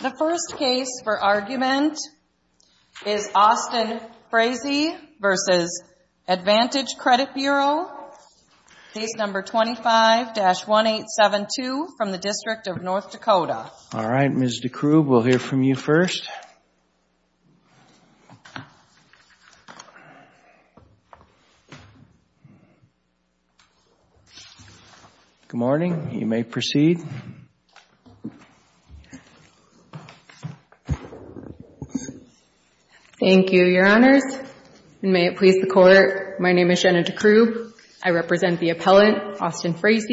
The first case for argument is Austin Fraase v. Advantage Credit Bureau, case number 25-1872 from the District of North Dakota. All right. Ms. Dekrug, we'll hear from you first. Good morning. You may proceed. Thank you, Your Honors, and may it please the Court, my name is Jenna Dekrug. I represent the appellant, Austin Fraase.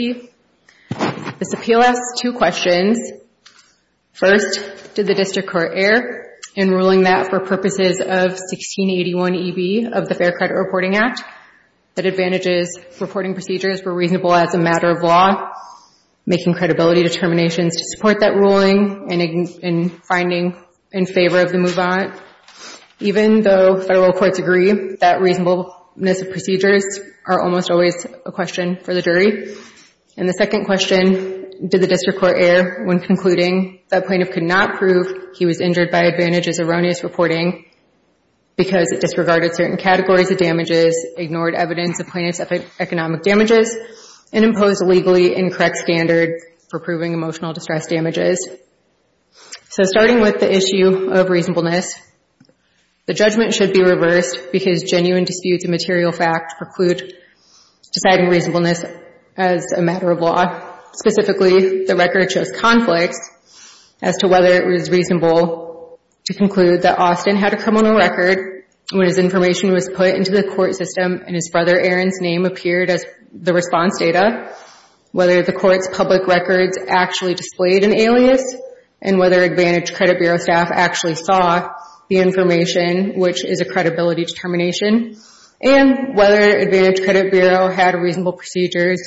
This appeal asks two questions. First, did the District Court err in ruling that for purposes of 1681eb of the Fair Credit Reporting Act that Advantage's reporting procedures were reasonable as a matter of law, making credibility determinations to support that ruling, and finding in favor of the move-on, even though federal courts agree that reasonableness of procedures are almost always a question for the jury? And the second question, did the District Court err when concluding that plaintiff could not prove he was injured by Advantage's erroneous reporting because it disregarded certain categories of damages, ignored evidence of plaintiff's economic damages, and imposed a legally incorrect standard for proving emotional distress damages? So starting with the issue of reasonableness, the judgment should be reversed because genuine disputes of material fact preclude deciding reasonableness as a matter of law. Specifically, the record shows conflicts as to whether it was reasonable to conclude that Austin had a criminal record when his information was put into the court system and his brother Aaron's name appeared as the response data, whether the court's public records actually displayed an alias, and whether Advantage Credit Bureau staff actually saw the information, which is a credibility determination, and whether Advantage Credit Bureau had reasonable procedures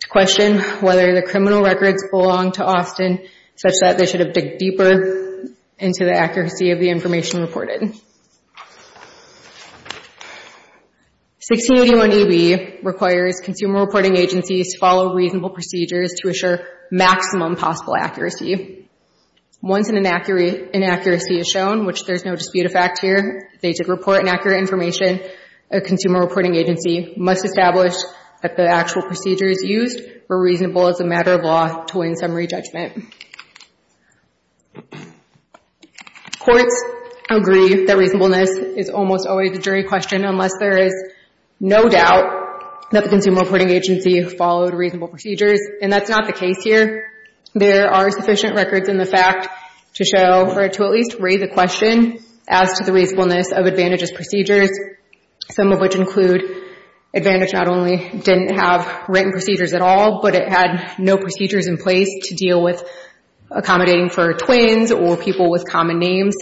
to question whether the criminal records belong to Austin, such that they should have digged deeper into the accuracy of the information reported. 1681EB requires consumer reporting agencies to follow reasonable procedures to assure maximum possible accuracy. Once an inaccuracy is shown, which there's no dispute of fact here, they did report an accurate information, a consumer reporting agency must establish that the actual procedures used were reasonable as a matter of law to win summary judgment. Courts agree that reasonableness is almost always a jury question unless there is no doubt that the consumer reporting agency followed reasonable procedures, and that's not the case here. There are sufficient records in the fact to show, or to at least raise a question as to the reasonableness of Advantage's procedures, some of which include Advantage not only didn't have written procedures at all, but it had no procedures in place to deal with accommodating for twins or people with common names.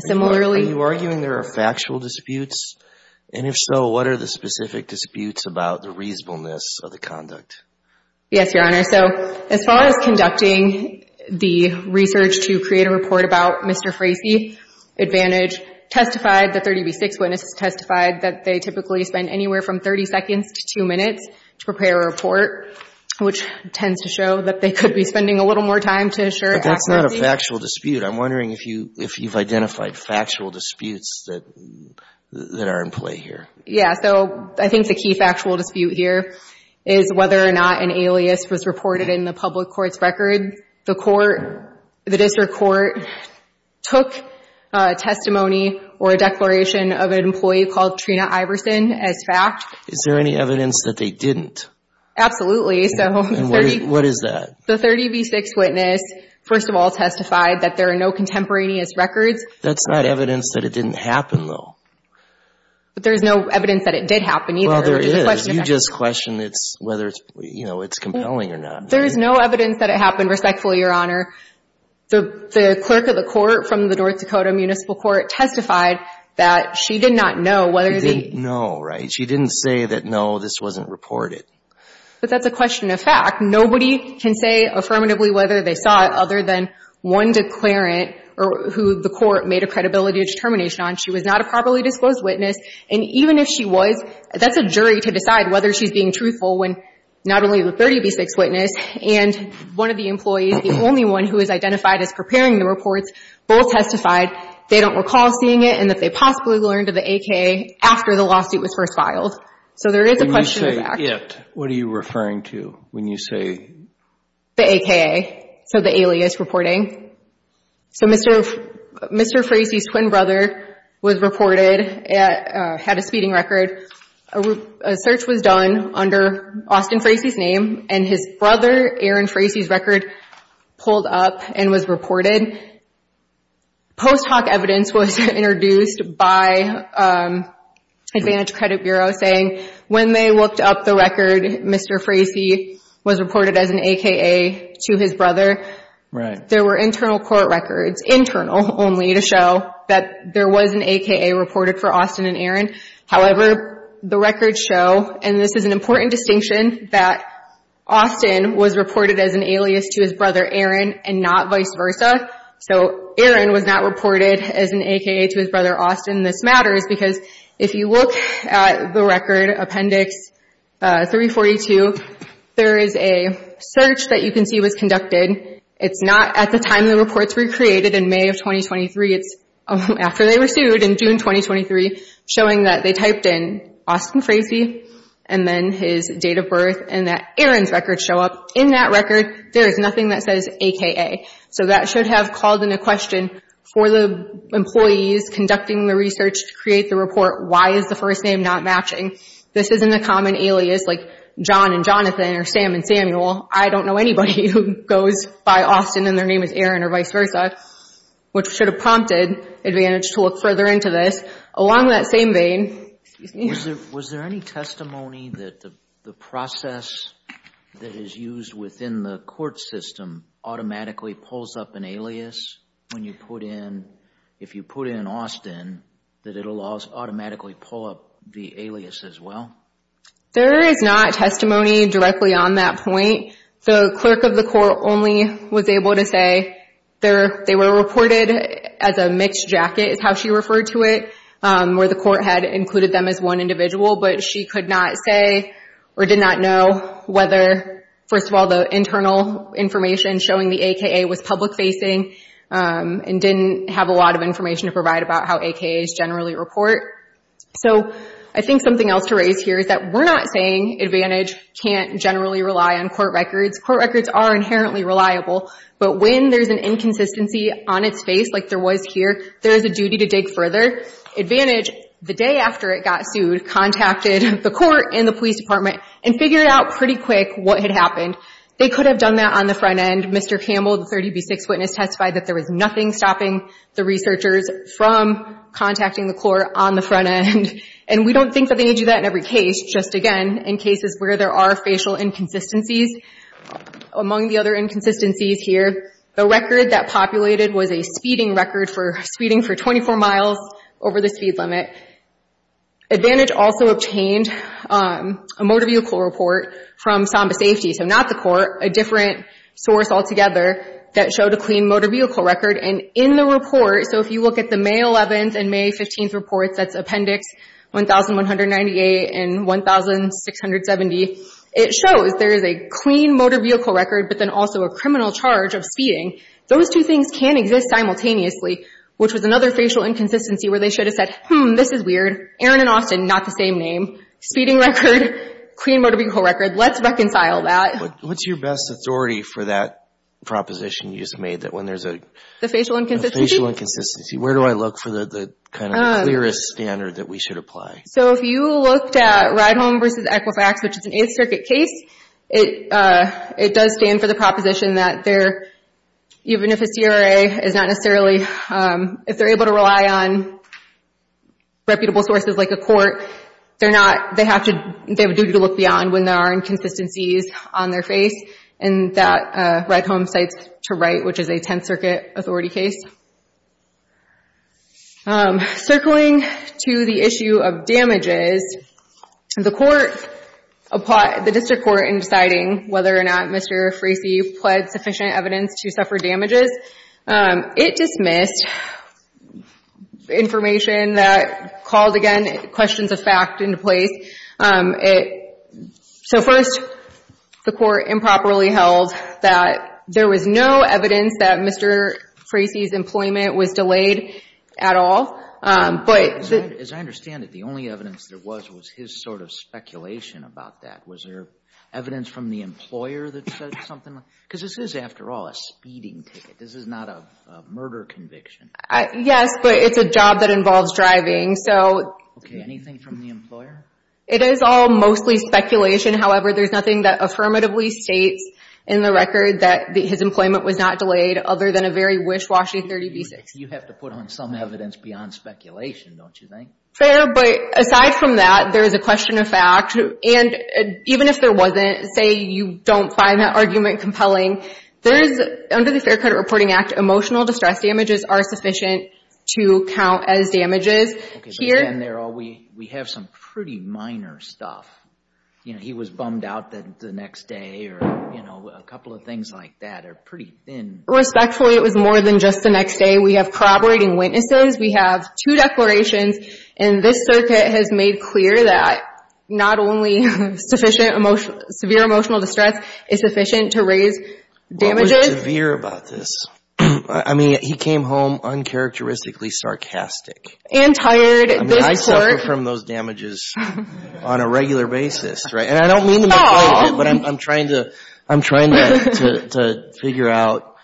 Similarly... Are you arguing there are factual disputes? And if so, what are the specific disputes about the reasonableness of the conduct? Yes, Your Honor. So as far as conducting the research to create a report about Mr. Frazee, Advantage testified, the 30B6 witnesses testified, that they typically spend anywhere from 30 seconds to 2 minutes to prepare a report, which tends to show that they could be spending a little more time to assure accuracy. But that's not a factual dispute. I'm wondering if you've identified factual disputes that are in play here. Yeah, so I think the key factual dispute here is whether or not an alias was reported in the public court's record. The court, the district court, took a testimony or a declaration of an employee called Trina Iverson as fact. Is there any evidence that they didn't? Absolutely, so... And what is that? The 30B6 witness, first of all, testified that there are no contemporaneous records. That's not evidence that it didn't happen, though. But there's no evidence that it did happen, either. Well, there is. You just questioned whether it's compelling or not. There's no evidence that it happened, respectfully, Your Honor. The clerk of the court from the North Dakota Municipal Court testified that she did not know whether the... She didn't know, right? She didn't say that, no, this wasn't reported. But that's a question of fact. Nobody can say affirmatively whether they saw it other than one declarant who the court made a credibility determination on. She was not a properly disclosed witness. And even if she was, that's a jury to decide whether she's being truthful when not only the 30B6 witness and one of the employees, the only one who was identified as preparing the reports, both testified they don't recall seeing it and that they possibly learned of the AKA after the lawsuit was first filed. So there is a question of fact. When you say it, what are you referring to when you say... The AKA, so the alias reporting. So Mr. Frasey's twin brother was reported, had a speeding record. A search was done under Austin Frasey's name and his brother, Aaron Frasey's record pulled up and was reported. Post hoc evidence was introduced by Advantage Credit Bureau saying when they looked up the record, Mr. Frasey was reported as an AKA to his brother. There were internal court records, internal only, to show that there was an AKA reported for Austin and Aaron. However, the records show, and this is an important distinction, that Austin was reported as an alias to his brother Aaron and not vice versa. So Aaron was not reported as an AKA to his brother Austin. This matters because if you look at the record, Appendix 342, there is a search that you can see was conducted. It's not at the time the reports were created in May of 2023, it's after they were sued in June 2023, showing that they typed in Austin Frasey and then his date of birth and that Aaron's record show up. In that record, there is nothing that says AKA. So that should have called into question for the employees conducting the research to create the report, why is the first name not matching? This isn't a common alias like John and Jonathan or Sam and Samuel. I don't know anybody who goes by Austin and their name is Aaron or vice versa, which should have prompted Advantage to look further into this. Along that same vein, excuse me. Was there any testimony that the process that is used within the court system automatically pulls up an alias when you put in, if you put in Austin, that it will automatically pull up the alias as well? There is not testimony directly on that point. The clerk of the court only was able to say they were reported as a mixed jacket, is how individual, but she could not say or did not know whether, first of all, the internal information showing the AKA was public facing and didn't have a lot of information to provide about how AKAs generally report. So I think something else to raise here is that we're not saying Advantage can't generally rely on court records. Court records are inherently reliable, but when there's an inconsistency on its face like there was here, there is a duty to dig further. Advantage, the day after it got sued, contacted the court and the police department and figured out pretty quick what had happened. They could have done that on the front end. Mr. Campbell, the 30 v. 6 witness, testified that there was nothing stopping the researchers from contacting the court on the front end. And we don't think that they need to do that in every case. Just, again, in cases where there are facial inconsistencies. Among the other inconsistencies here, the record that populated was a speeding record for speeding for 24 miles over the speed limit. Advantage also obtained a motor vehicle report from Samba Safety, so not the court, a different source altogether that showed a clean motor vehicle record. And in the report, so if you look at the May 11th and May 15th reports, that's Appendix 1198 and 1670, it shows there is a clean motor vehicle record, but then also a criminal charge of speeding. Those two things can exist simultaneously, which was another facial inconsistency where they should have said, hmm, this is weird, Aaron and Austin, not the same name. Speeding record, clean motor vehicle record, let's reconcile that. What's your best authority for that proposition you just made that when there's a... The facial inconsistency? The facial inconsistency. Where do I look for the kind of clearest standard that we should apply? So if you looked at Ride Home v. Equifax, which is an Eighth Circuit case, it does stand for the proposition that even if a CRA is not necessarily... If they're able to rely on reputable sources like a court, they have a duty to look beyond when there are inconsistencies on their face, and that Ride Home cites to right, which is a Tenth Circuit authority case. Circling to the issue of damages, the court, the district court in deciding whether or not Mr. Frasey pled sufficient evidence to suffer damages, it dismissed information that called, again, questions of fact into place. So first, the court improperly held that there was no evidence that Mr. Frasey's employment was delayed at all, but... As I understand it, the only evidence there was was his sort of speculation about that. Was there evidence from the employer that said something like... Because this is, after all, a speeding ticket. This is not a murder conviction. Yes, but it's a job that involves driving, so... Okay, anything from the employer? It is all mostly speculation. However, there's nothing that affirmatively states in the record that his employment was not delayed other than a very wish-washy 30 v. 60. You have to put on some evidence beyond speculation, don't you think? Fair, but aside from that, there is a question of fact. Even if there wasn't, say you don't find that argument compelling, under the Fair Credit Reporting Act, emotional distress damages are sufficient to count as damages. Okay, so again, there we have some pretty minor stuff. He was bummed out the next day, or a couple of things like that are pretty thin. Respectfully, it was more than just the next day. We have corroborating witnesses, we have two declarations, and this circuit has made clear that not only severe emotional distress is sufficient to raise damages... What was severe about this? I mean, he came home uncharacteristically sarcastic. And tired, this court... I mean, I suffer from those damages on a regular basis, right? And I don't mean to make fun of it, but I'm trying to figure out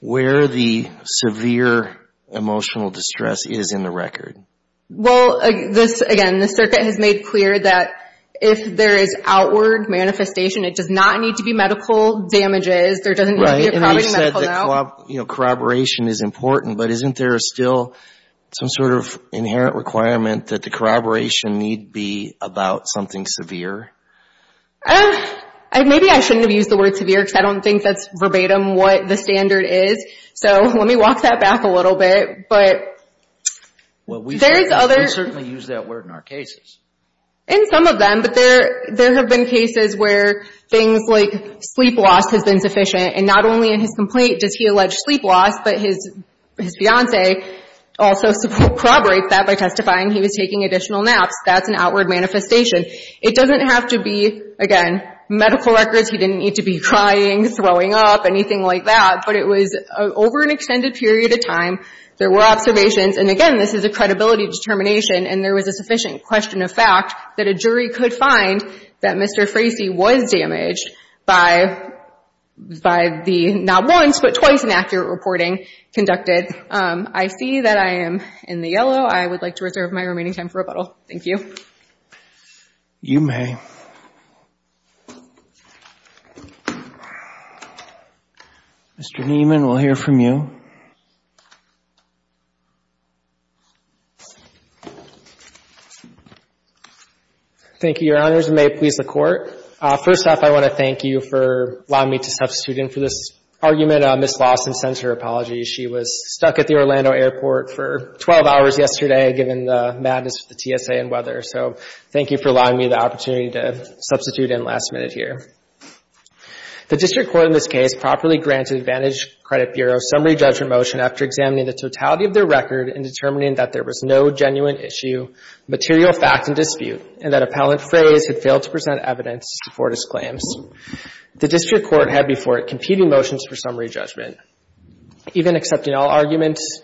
where the severe emotional distress is in the record. Well, again, this circuit has made clear that if there is outward manifestation, it does not need to be medical damages. There doesn't need to be a problem with a medical note. Right, and we've said that corroboration is important, but isn't there still some sort of inherent requirement that the corroboration need be about something severe? Maybe I shouldn't have used the word severe, because I don't think that's verbatim what the standard is. So let me walk that back a little bit. Well, we certainly use that word in our cases. In some of them, but there have been cases where things like sleep loss has been sufficient, and not only in his complaint does he allege sleep loss, but his fiancee also corroborates that by testifying he was taking additional naps. That's an outward manifestation. It doesn't have to be, again, medical records. He didn't need to be crying, throwing up, anything like that, but it was over an extended period of time. There were observations, and again, this is a credibility determination, and there was a sufficient question of fact that a jury could find that Mr. Frasey was damaged by the not once, but twice inaccurate reporting conducted. I see that I am in the yellow. I would like to reserve my remaining time for rebuttal. Thank you. You may. Mr. Niemann, we'll hear from you. Thank you, Your Honors. May it please the Court. First off, I want to thank you for allowing me to substitute in for this argument. Ms. Lawson sends her apologies. She was stuck at the Orlando Airport for 12 hours yesterday, given the madness of the TSA and weather. Thank you for allowing me the opportunity to substitute in last minute here. The District Court in this case properly granted Vantage Credit Bureau's summary judgment motion after examining the totality of their record and determining that there was no genuine issue, material fact, and dispute, and that Appellant Frase had failed to present evidence to support his claims. The District Court had before it competing motions for summary judgment. Even accepting all arguments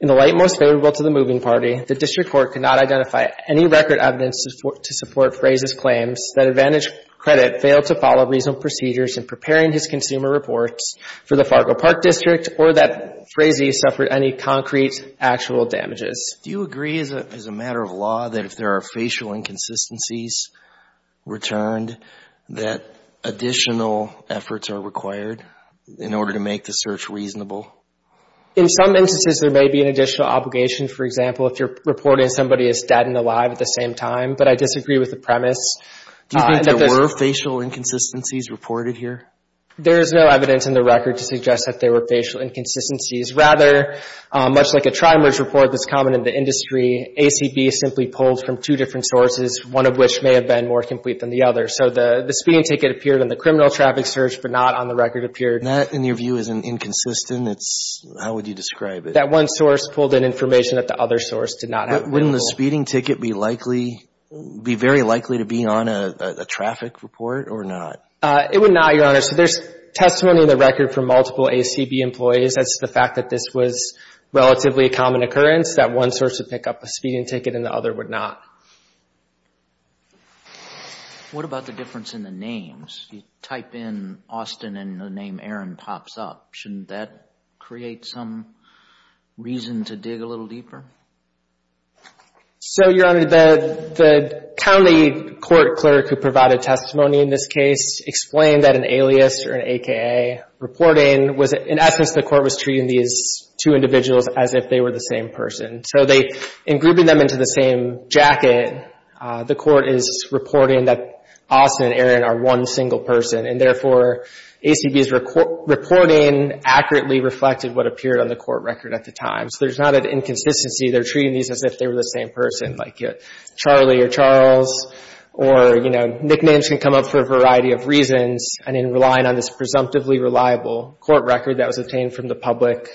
in the light most favorable to the moving party, the District Court could not identify any record evidence to support Frase's claims that Vantage Credit failed to follow reasonable procedures in preparing his consumer reports for the Fargo Park District or that Frase suffered any concrete actual damages. Do you agree as a matter of law that if there are facial inconsistencies returned that additional efforts are required in order to make the search reasonable? In some instances, there may be an additional obligation. For example, if you're reporting somebody as dead and alive at the same time, but I disagree with the premise. Do you think there were facial inconsistencies reported here? There is no evidence in the record to suggest that there were facial inconsistencies. Rather, much like a trimers report that's common in the industry, ACB simply pulled from two different sources, one of which may have been more complete than the other. So the speeding ticket appeared in the criminal traffic search, but not on the record appeared That, in your view, is inconsistent. It's, how would you describe it? That one source pulled in information that the other source did not have. Wouldn't the speeding ticket be likely, be very likely to be on a traffic report or not? It would not, Your Honor. So there's testimony in the record from multiple ACB employees as to the fact that this was relatively a common occurrence, that one source would pick up a speeding ticket and the other would not. What about the difference in the names? You type in Austin and the name Aaron pops up. Shouldn't that create some reason to dig a little deeper? So, Your Honor, the county court clerk who provided testimony in this case explained that an alias or an AKA reporting was, in essence, the court was treating these two individuals as if they were the same person. So they, in grouping them into the same jacket, the court is reporting that Austin and Aaron are one single person and, therefore, ACB's reporting accurately reflected what appeared on the court record at the time. So there's not an inconsistency. They're treating these as if they were the same person, like Charlie or Charles or, you know, nicknames can come up for a variety of reasons. And in relying on this presumptively reliable court record that was obtained from the public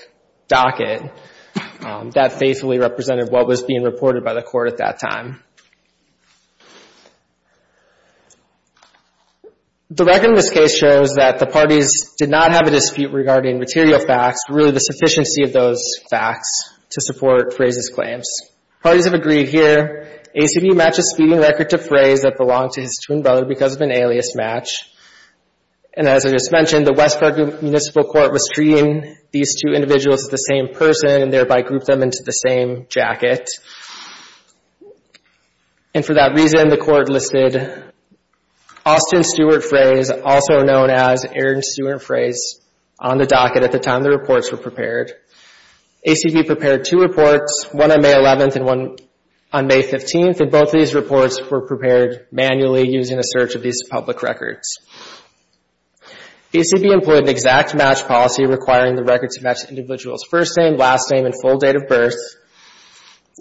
docket, that faithfully represented what was being reported by the court at that time. The record in this case shows that the parties did not have a dispute regarding material facts, really the sufficiency of those facts to support Frey's claims. Parties have agreed here, ACB matched a speeding record to Frey's that belonged to his twin brother because of an alias match. And as I just mentioned, the West Park Municipal Court was treating these two individuals as the same person and, thereby, grouped them into the same jacket. And for that reason, the court listed Austin Stewart Frey's, also known as Aaron Stewart Frey's, on the docket at the time the reports were prepared. ACB prepared two reports, one on May 11th and one on May 15th, and both of these reports were prepared manually using a search of these public records. ACB employed an exact match policy requiring the record to match the individual's first name, last name, and full date of birth.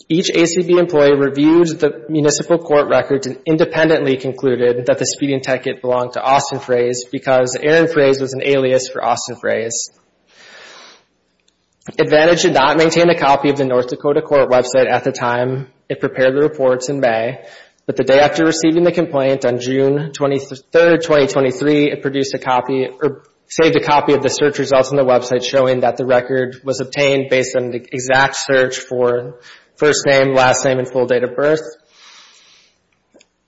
Each ACB employee reviewed the municipal court records and independently concluded that the speeding ticket belonged to Austin Frey's because Aaron Frey's was an alias for Austin Frey's. Advantage did not maintain a copy of the North Dakota court website at the time it prepared the reports in May, but the day after receiving the complaint on June 23rd, 2023, it produced a copy or saved a copy of the search results on the website showing that the record was obtained based on the exact search for first name, last name, and full date of birth.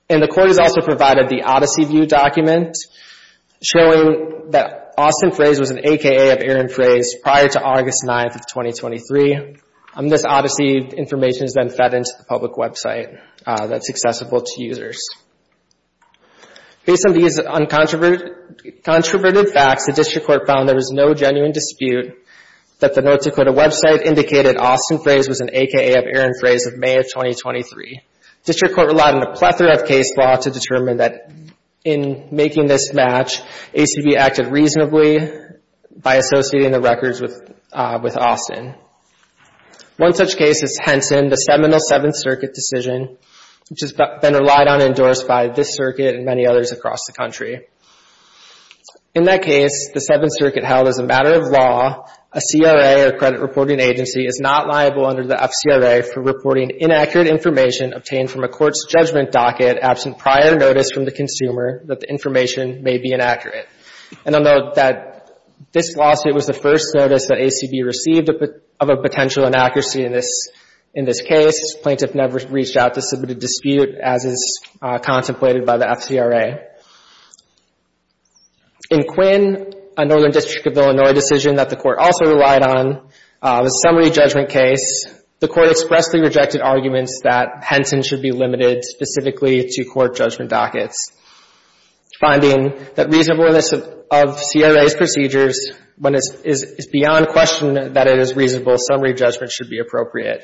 And the court has also provided the Odyssey View document showing that Austin Frey's was an AKA of Aaron Frey's prior to August 9th of 2023. This Odyssey information is then fed into the public website that's accessible to users. Based on these uncontroverted facts, the district court found there was no genuine dispute that the North Dakota website indicated Austin Frey's was an AKA of Aaron Frey's of May of 2023. The district court relied on a plethora of case law to determine that in making this match, ACB acted reasonably by associating the records with Austin. One such case is Henson, the Seminole Seventh Circuit decision, which has been relied on and endorsed by this circuit and many others across the country. In that case, the Seventh Circuit held as a matter of law, a CRA or credit reporting agency is not liable under the FCRA for reporting inaccurate information obtained from a court's may be inaccurate. And I'll note that this lawsuit was the first notice that ACB received of a potential inaccuracy in this case. Plaintiff never reached out to submit a dispute as is contemplated by the FCRA. In Quinn, a Northern District of Illinois decision that the court also relied on, a summary judgment case, the court expressly rejected arguments that Henson should be limited specifically to court judgment dockets. Finding that reasonableness of CRA's procedures when it's beyond question that it is reasonable, summary judgment should be appropriate.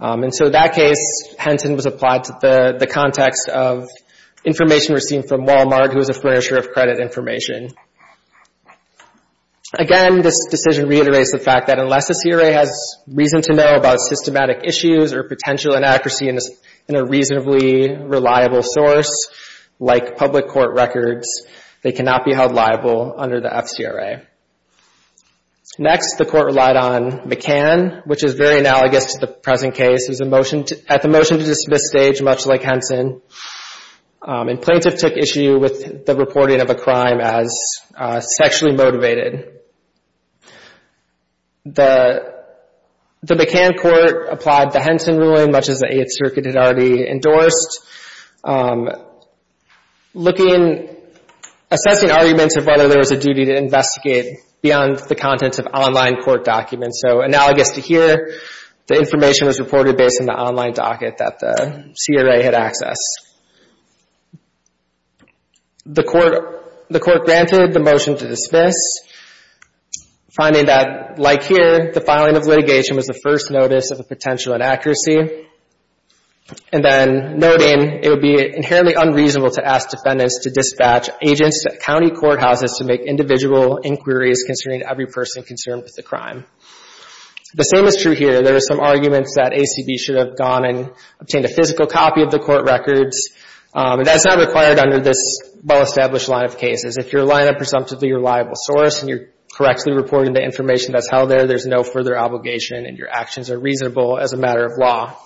And so that case, Henson was applied to the context of information received from Wal-Mart who is a furnisher of credit information. Again, this decision reiterates the fact that unless a CRA has reason to know about systematic issues or potential inaccuracy in a reasonably reliable source, like public court records, they cannot be held liable under the FCRA. Next, the court relied on McCann, which is very analogous to the present case. At the motion to dismiss stage, much like Henson, a plaintiff took issue with the reporting of a crime as sexually motivated. The McCann court applied the Henson ruling, much as the Eighth Circuit had already endorsed, looking, assessing arguments of whether there was a duty to investigate beyond the contents of online court documents. So analogous to here, the information was reported based on the online docket that the CRA had accessed. The court granted the motion to dismiss, finding that, like here, the filing of litigation was the first notice of a potential inaccuracy, and then noting it would be inherently unreasonable to ask defendants to dispatch agents to county courthouses to make individual inquiries concerning every person concerned with the crime. The same is true here. There are some arguments that ACB should have gone and obtained a physical copy of the court records. That's not required under this well-established line of cases. If your line of presumptively reliable source and you're correctly reporting the information that's held there, there's no further obligation and your actions are reasonable as a matter of law.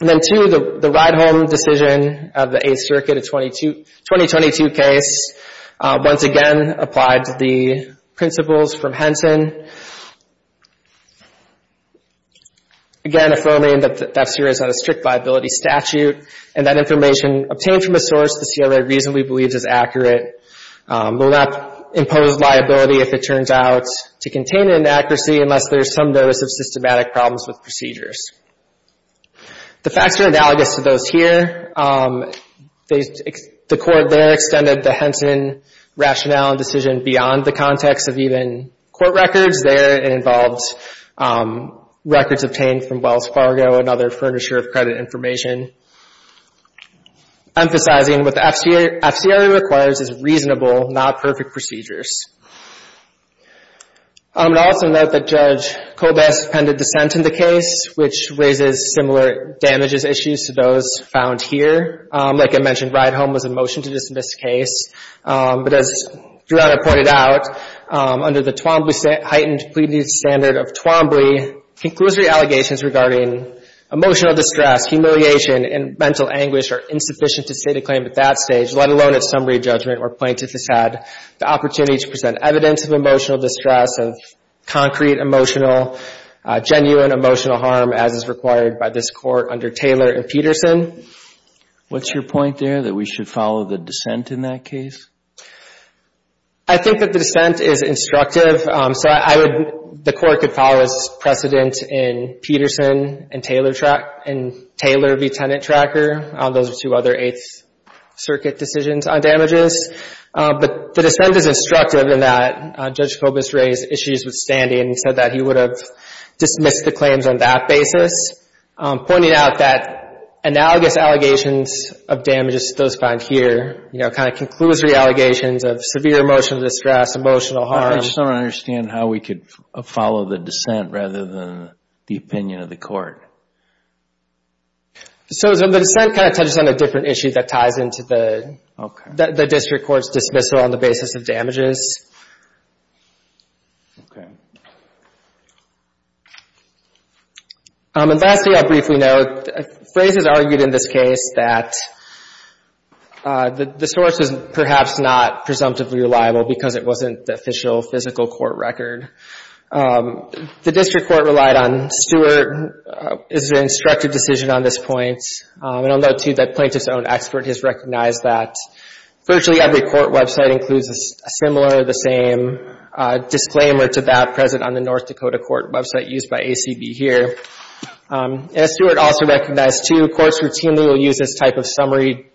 And then, two, the ride-home decision of the Eighth Circuit, a 2022 case, once again applied to the principles from Henson, again affirming that the death series had a strict liability statute and that information obtained from a source the CRA reasonably believes is accurate will not impose liability if it turns out to contain an inaccuracy unless there's some notice of systematic problems with procedures. The facts are analogous to those here. The court there extended the Henson rationale and decision beyond the context of even court records there. It involved records obtained from Wells Fargo and other furniture of credit information, emphasizing what the FCRA requires is reasonable, not perfect procedures. I would also note that Judge Kobes appended dissent in the case, which raises similar damages issues to those found here. Like I mentioned, ride-home was in motion to dismiss the case. But as Gerardo pointed out, under the Twombly heightened pleading standard of Twombly, conclusory allegations regarding emotional distress, humiliation, and mental anguish are insufficient to state a claim at that stage, let alone at summary judgment where plaintiff has had the opportunity to present evidence of emotional distress, of concrete emotional, genuine emotional harm as is required by this court under Taylor and Peterson. What's your point there, that we should follow the dissent in that case? I think that the dissent is instructive. So I would, the court could follow as precedent in Peterson and Taylor v. Tenant Tracker. Those are two other Eighth Circuit decisions on damages. But the dissent is instructive in that Judge Kobes raised issues with standing and said that he would have dismissed the claims on that basis. Pointing out that analogous allegations of damages to those found here, you know, kind of conclusory allegations of severe emotional distress, emotional harm. I just don't understand how we could follow the dissent rather than the opinion of the court. So the dissent kind of touches on a different issue that ties into the district court's dismissal on the basis of damages. Okay. And lastly, I'll briefly note, Fraze has argued in this case that the source is perhaps not presumptively reliable because it wasn't the official physical court record. The district court relied on Stewart as an instructive decision on this point. And I'll note too that plaintiff's own expert has recognized that virtually every court website includes a similar, the same disclaimer to that present on the North Dakota court website used by ACB here. And as Stewart also recognized too, courts routinely will use this type of summary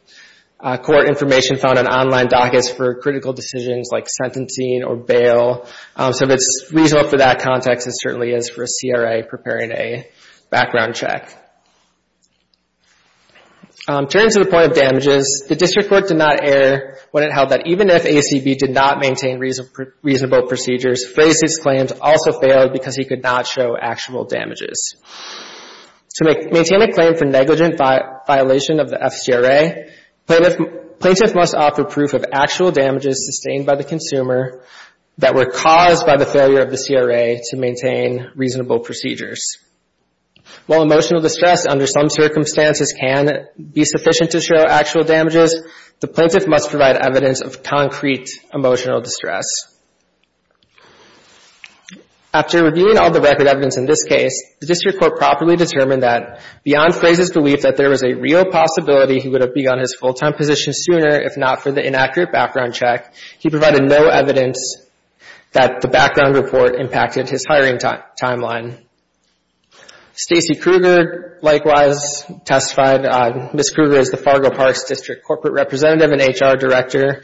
court information found on online dockets for critical decisions like sentencing or bail. So if it's reasonable for that context, it certainly is for a CRA preparing a background check. Turning to the point of damages, the district court did not err when it held that even if ACB did not maintain reasonable procedures, Fraze's claims also failed because he could not show actual damages. To maintain a claim for negligent violation of the FCRA, plaintiff must offer proof of actual damages sustained by the consumer that were caused by the failure of the CRA to maintain reasonable procedures. While emotional distress under some circumstances can be sufficient to show actual damages, the plaintiff must provide evidence of concrete emotional distress. After reviewing all the record evidence in this case, the district court properly determined that beyond Fraze's belief that there was a real possibility he would have begun his full-time position sooner if not for the inaccurate background check, he provided no evidence that the background report impacted his hiring timeline. Stacey Kruger, likewise, testified. Ms. Kruger is the Fargo Parks District Corporate Representative and HR Director.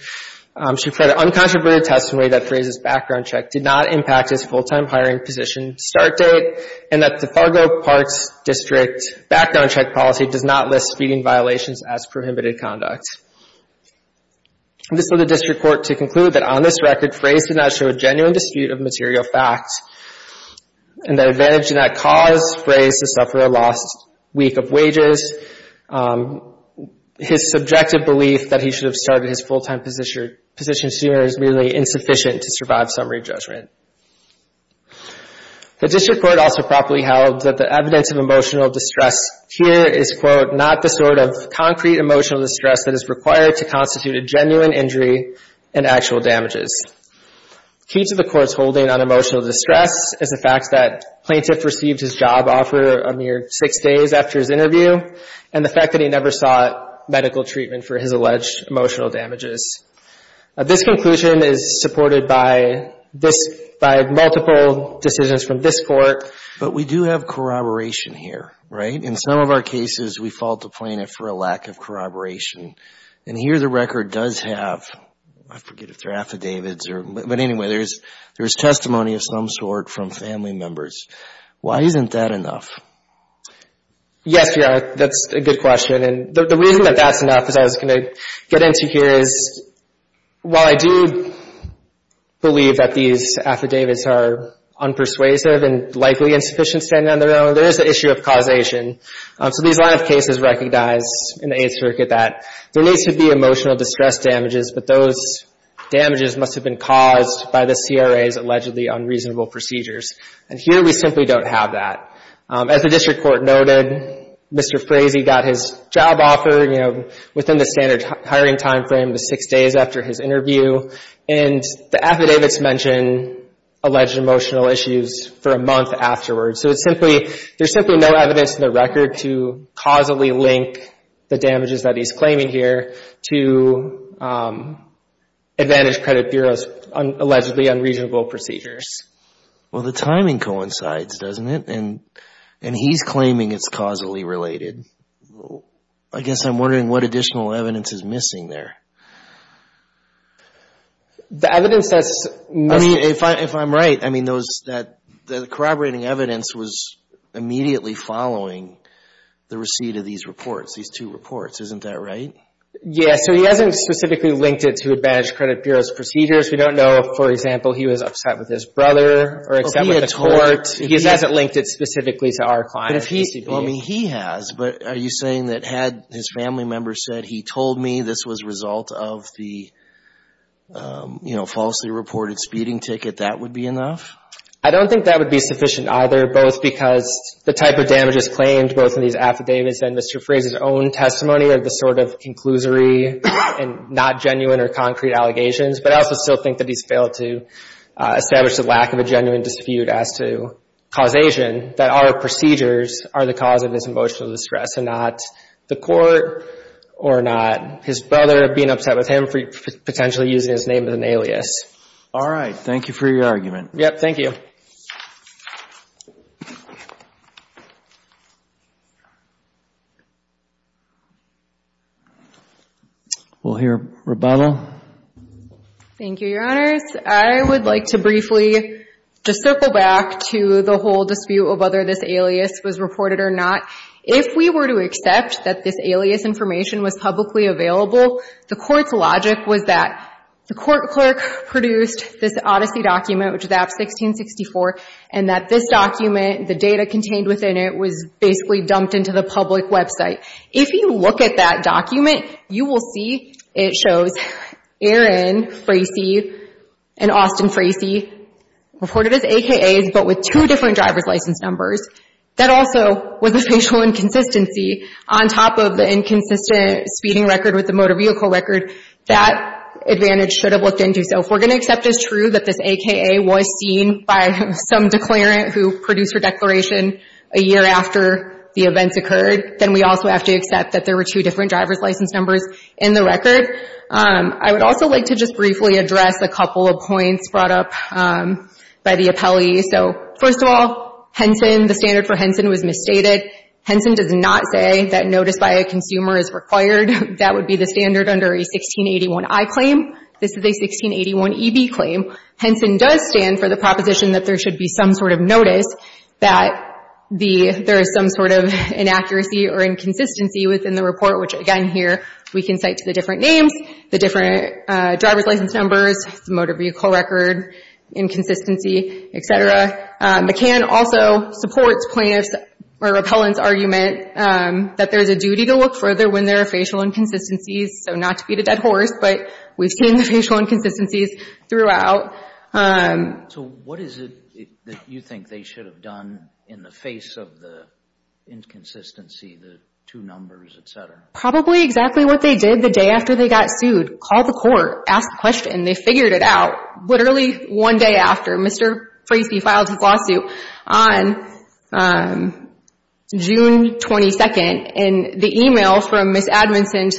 She said an uncontroverted testimony that Fraze's background check did not impact his full-time hiring position start date and that the Fargo Parks District background check policy does not list speeding violations as prohibited conduct. This led the district court to conclude that on this record, Fraze did not show a genuine dispute of material facts and that advantaged in that cause, Fraze has suffered a lost week of wages. His subjective belief that he should have started his full-time position sooner is really insufficient to survive summary judgment. The district court also properly held that the evidence of emotional distress here is, quote, not the sort of concrete emotional distress that is required to constitute a genuine injury and actual damages. Key to the court's holding on emotional distress is the fact that plaintiff received his job offer a mere six days after his interview and the fact that he never sought medical treatment for his alleged emotional damages. This conclusion is supported by this, by multiple decisions from this court. But we do have corroboration here, right? In some of our cases, we fault the plaintiff for a lack of corroboration. And here the record does have, I forget if they're affidavits or, but anyway, there's testimony of some sort from family members. Why isn't that enough? Yes, Your Honor, that's a good question. And the reason that that's enough, as I was going to get into here, is while I do believe that these affidavits are unpersuasive and likely insufficient standing on their own, there is the issue of causation. So these line of cases recognize in the Eighth Circuit that there needs to be emotional distress damages, but those damages must have been caused by the CRA's allegedly unreasonable procedures. And here we simply don't have that. As the district court noted, Mr. Frazee got his job offer, you know, within the standard hiring time frame of six days after his interview, and the affidavits mention alleged emotional issues for a month afterwards. So it's simply, there's simply no evidence in the record to causally link the damages that he's claiming here to Advantage Credit Bureau's allegedly unreasonable procedures. Well, the timing coincides, doesn't it? And he's claiming it's causally related. I guess I'm wondering what additional evidence is missing there. The evidence that's missing... I mean, if I'm right, I mean, those, that corroborating evidence was immediately following the receipt of these reports, these two reports. Isn't that right? Yes. So he hasn't specifically linked it to Advantage Credit Bureau's procedures. We don't know if, for example, he was upset with his brother or upset with the court. He hasn't linked it specifically to our client, the CBO. Well, I mean, he has, but are you saying that had his family member said, he told me this was a result of the, you know, falsely reported speeding ticket, that would be enough? I don't think that would be sufficient either, both because the type of damages claimed both in these affidavits and Mr. Frazee's own testimony are the sort of conclusory and not genuine or concrete allegations. But I also still think that he's failed to establish the lack of a genuine dispute as to causation, that our procedures are the cause of his emotional distress and not the court or not. His brother being upset with him for potentially using his name as an alias. All right. Thank you for your argument. Yep. Thank you. We'll hear Rebecca. Thank you, Your Honors. I would like to briefly just circle back to the whole dispute of whether this alias was reported or not. If we were to accept that this alias information was publicly available, the court's logic was that the court clerk produced this odyssey document, which is AB1664, and that this document, the data contained within it, was basically dumped into the public website. If you look at that document, you will see it shows Aaron Frazee and Austin Frazee reported as AKAs, but with two different driver's license numbers. That also was a facial inconsistency. On top of the inconsistent speeding record with the motor vehicle record, that advantage should have looked into. So if we're going to accept as true that this AKA was seen by some declarant who produced her declaration a year after the events occurred, then we also have to accept that there were two different driver's license numbers in the record. I would also like to just briefly address a couple of points brought up by the appellee. So first of all, Henson, the standard for Henson was misstated. Henson does not say that notice by a consumer is required. That would be the standard under a 1681I claim. This is a 1681EB claim. Henson does stand for the proposition that there should be some sort of notice that there is some sort of inaccuracy or inconsistency within the report, which again here we can cite to the different names, the different driver's license numbers, the motor vehicle record inconsistency, et cetera. McCann also supports plaintiff's or repellent's argument that there is a duty to look further when there are facial inconsistencies. So not to beat a dead horse, but we've seen the facial inconsistencies throughout. So what is it that you think they should have done in the face of the inconsistency, the two numbers, et cetera? Probably exactly what they did the day after they got sued. Called the court, asked the question, they figured it out literally one day after. Mr. Frasey filed his lawsuit on June 22nd and the email from Ms. Admonson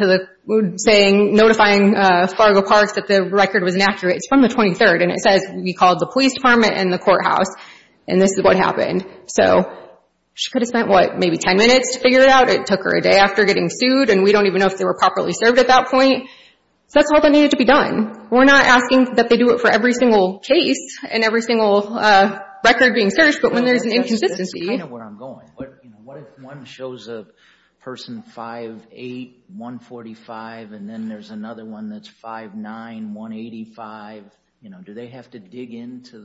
saying, notifying Fargo Parks that the record was inaccurate, it's from the 23rd and it says we called the police department and the courthouse and this is what happened. So she could have spent, what, maybe 10 minutes to figure it out. It took her a day after getting sued and we don't even know if they were properly served at that point. So that's all that needed to be done. We're not asking that they do it for every single case and every single record being searched, but when there's an inconsistency. That's kind of where I'm going. What if one shows a person 5'8", 145 and then there's another one that's 5'9", 185, do they have to dig into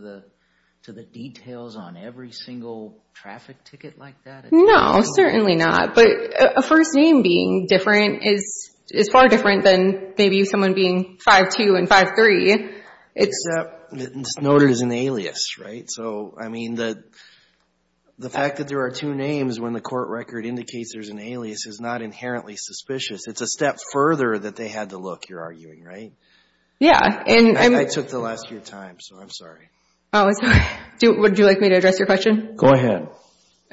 the details on every single traffic ticket like that? No, certainly not. But a first name being different is far different than maybe someone being 5'2", 5'3". Except it's noted as an alias, right? So I mean, the fact that there are two names when the court record indicates there's an alias is not inherently suspicious. It's a step further that they had to look, you're arguing, right? Yeah. I took the last of your time, so I'm sorry. Would you like me to address your question? Go ahead.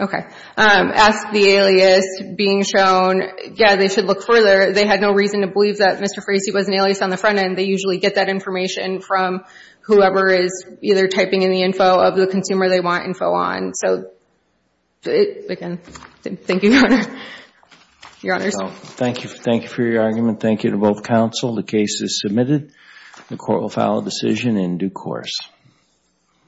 Okay. Ask the alias being shown, yeah, they should look further. They had no reason to believe that Mr. Frasey was an alias on the front end. They usually get that information from whoever is either typing in the info of the consumer they want info on. So again, thank you, Your Honor. Your Honors. Thank you. Thank you for your argument. Thank you to both counsel. The case is submitted. The court will file a decision in due course.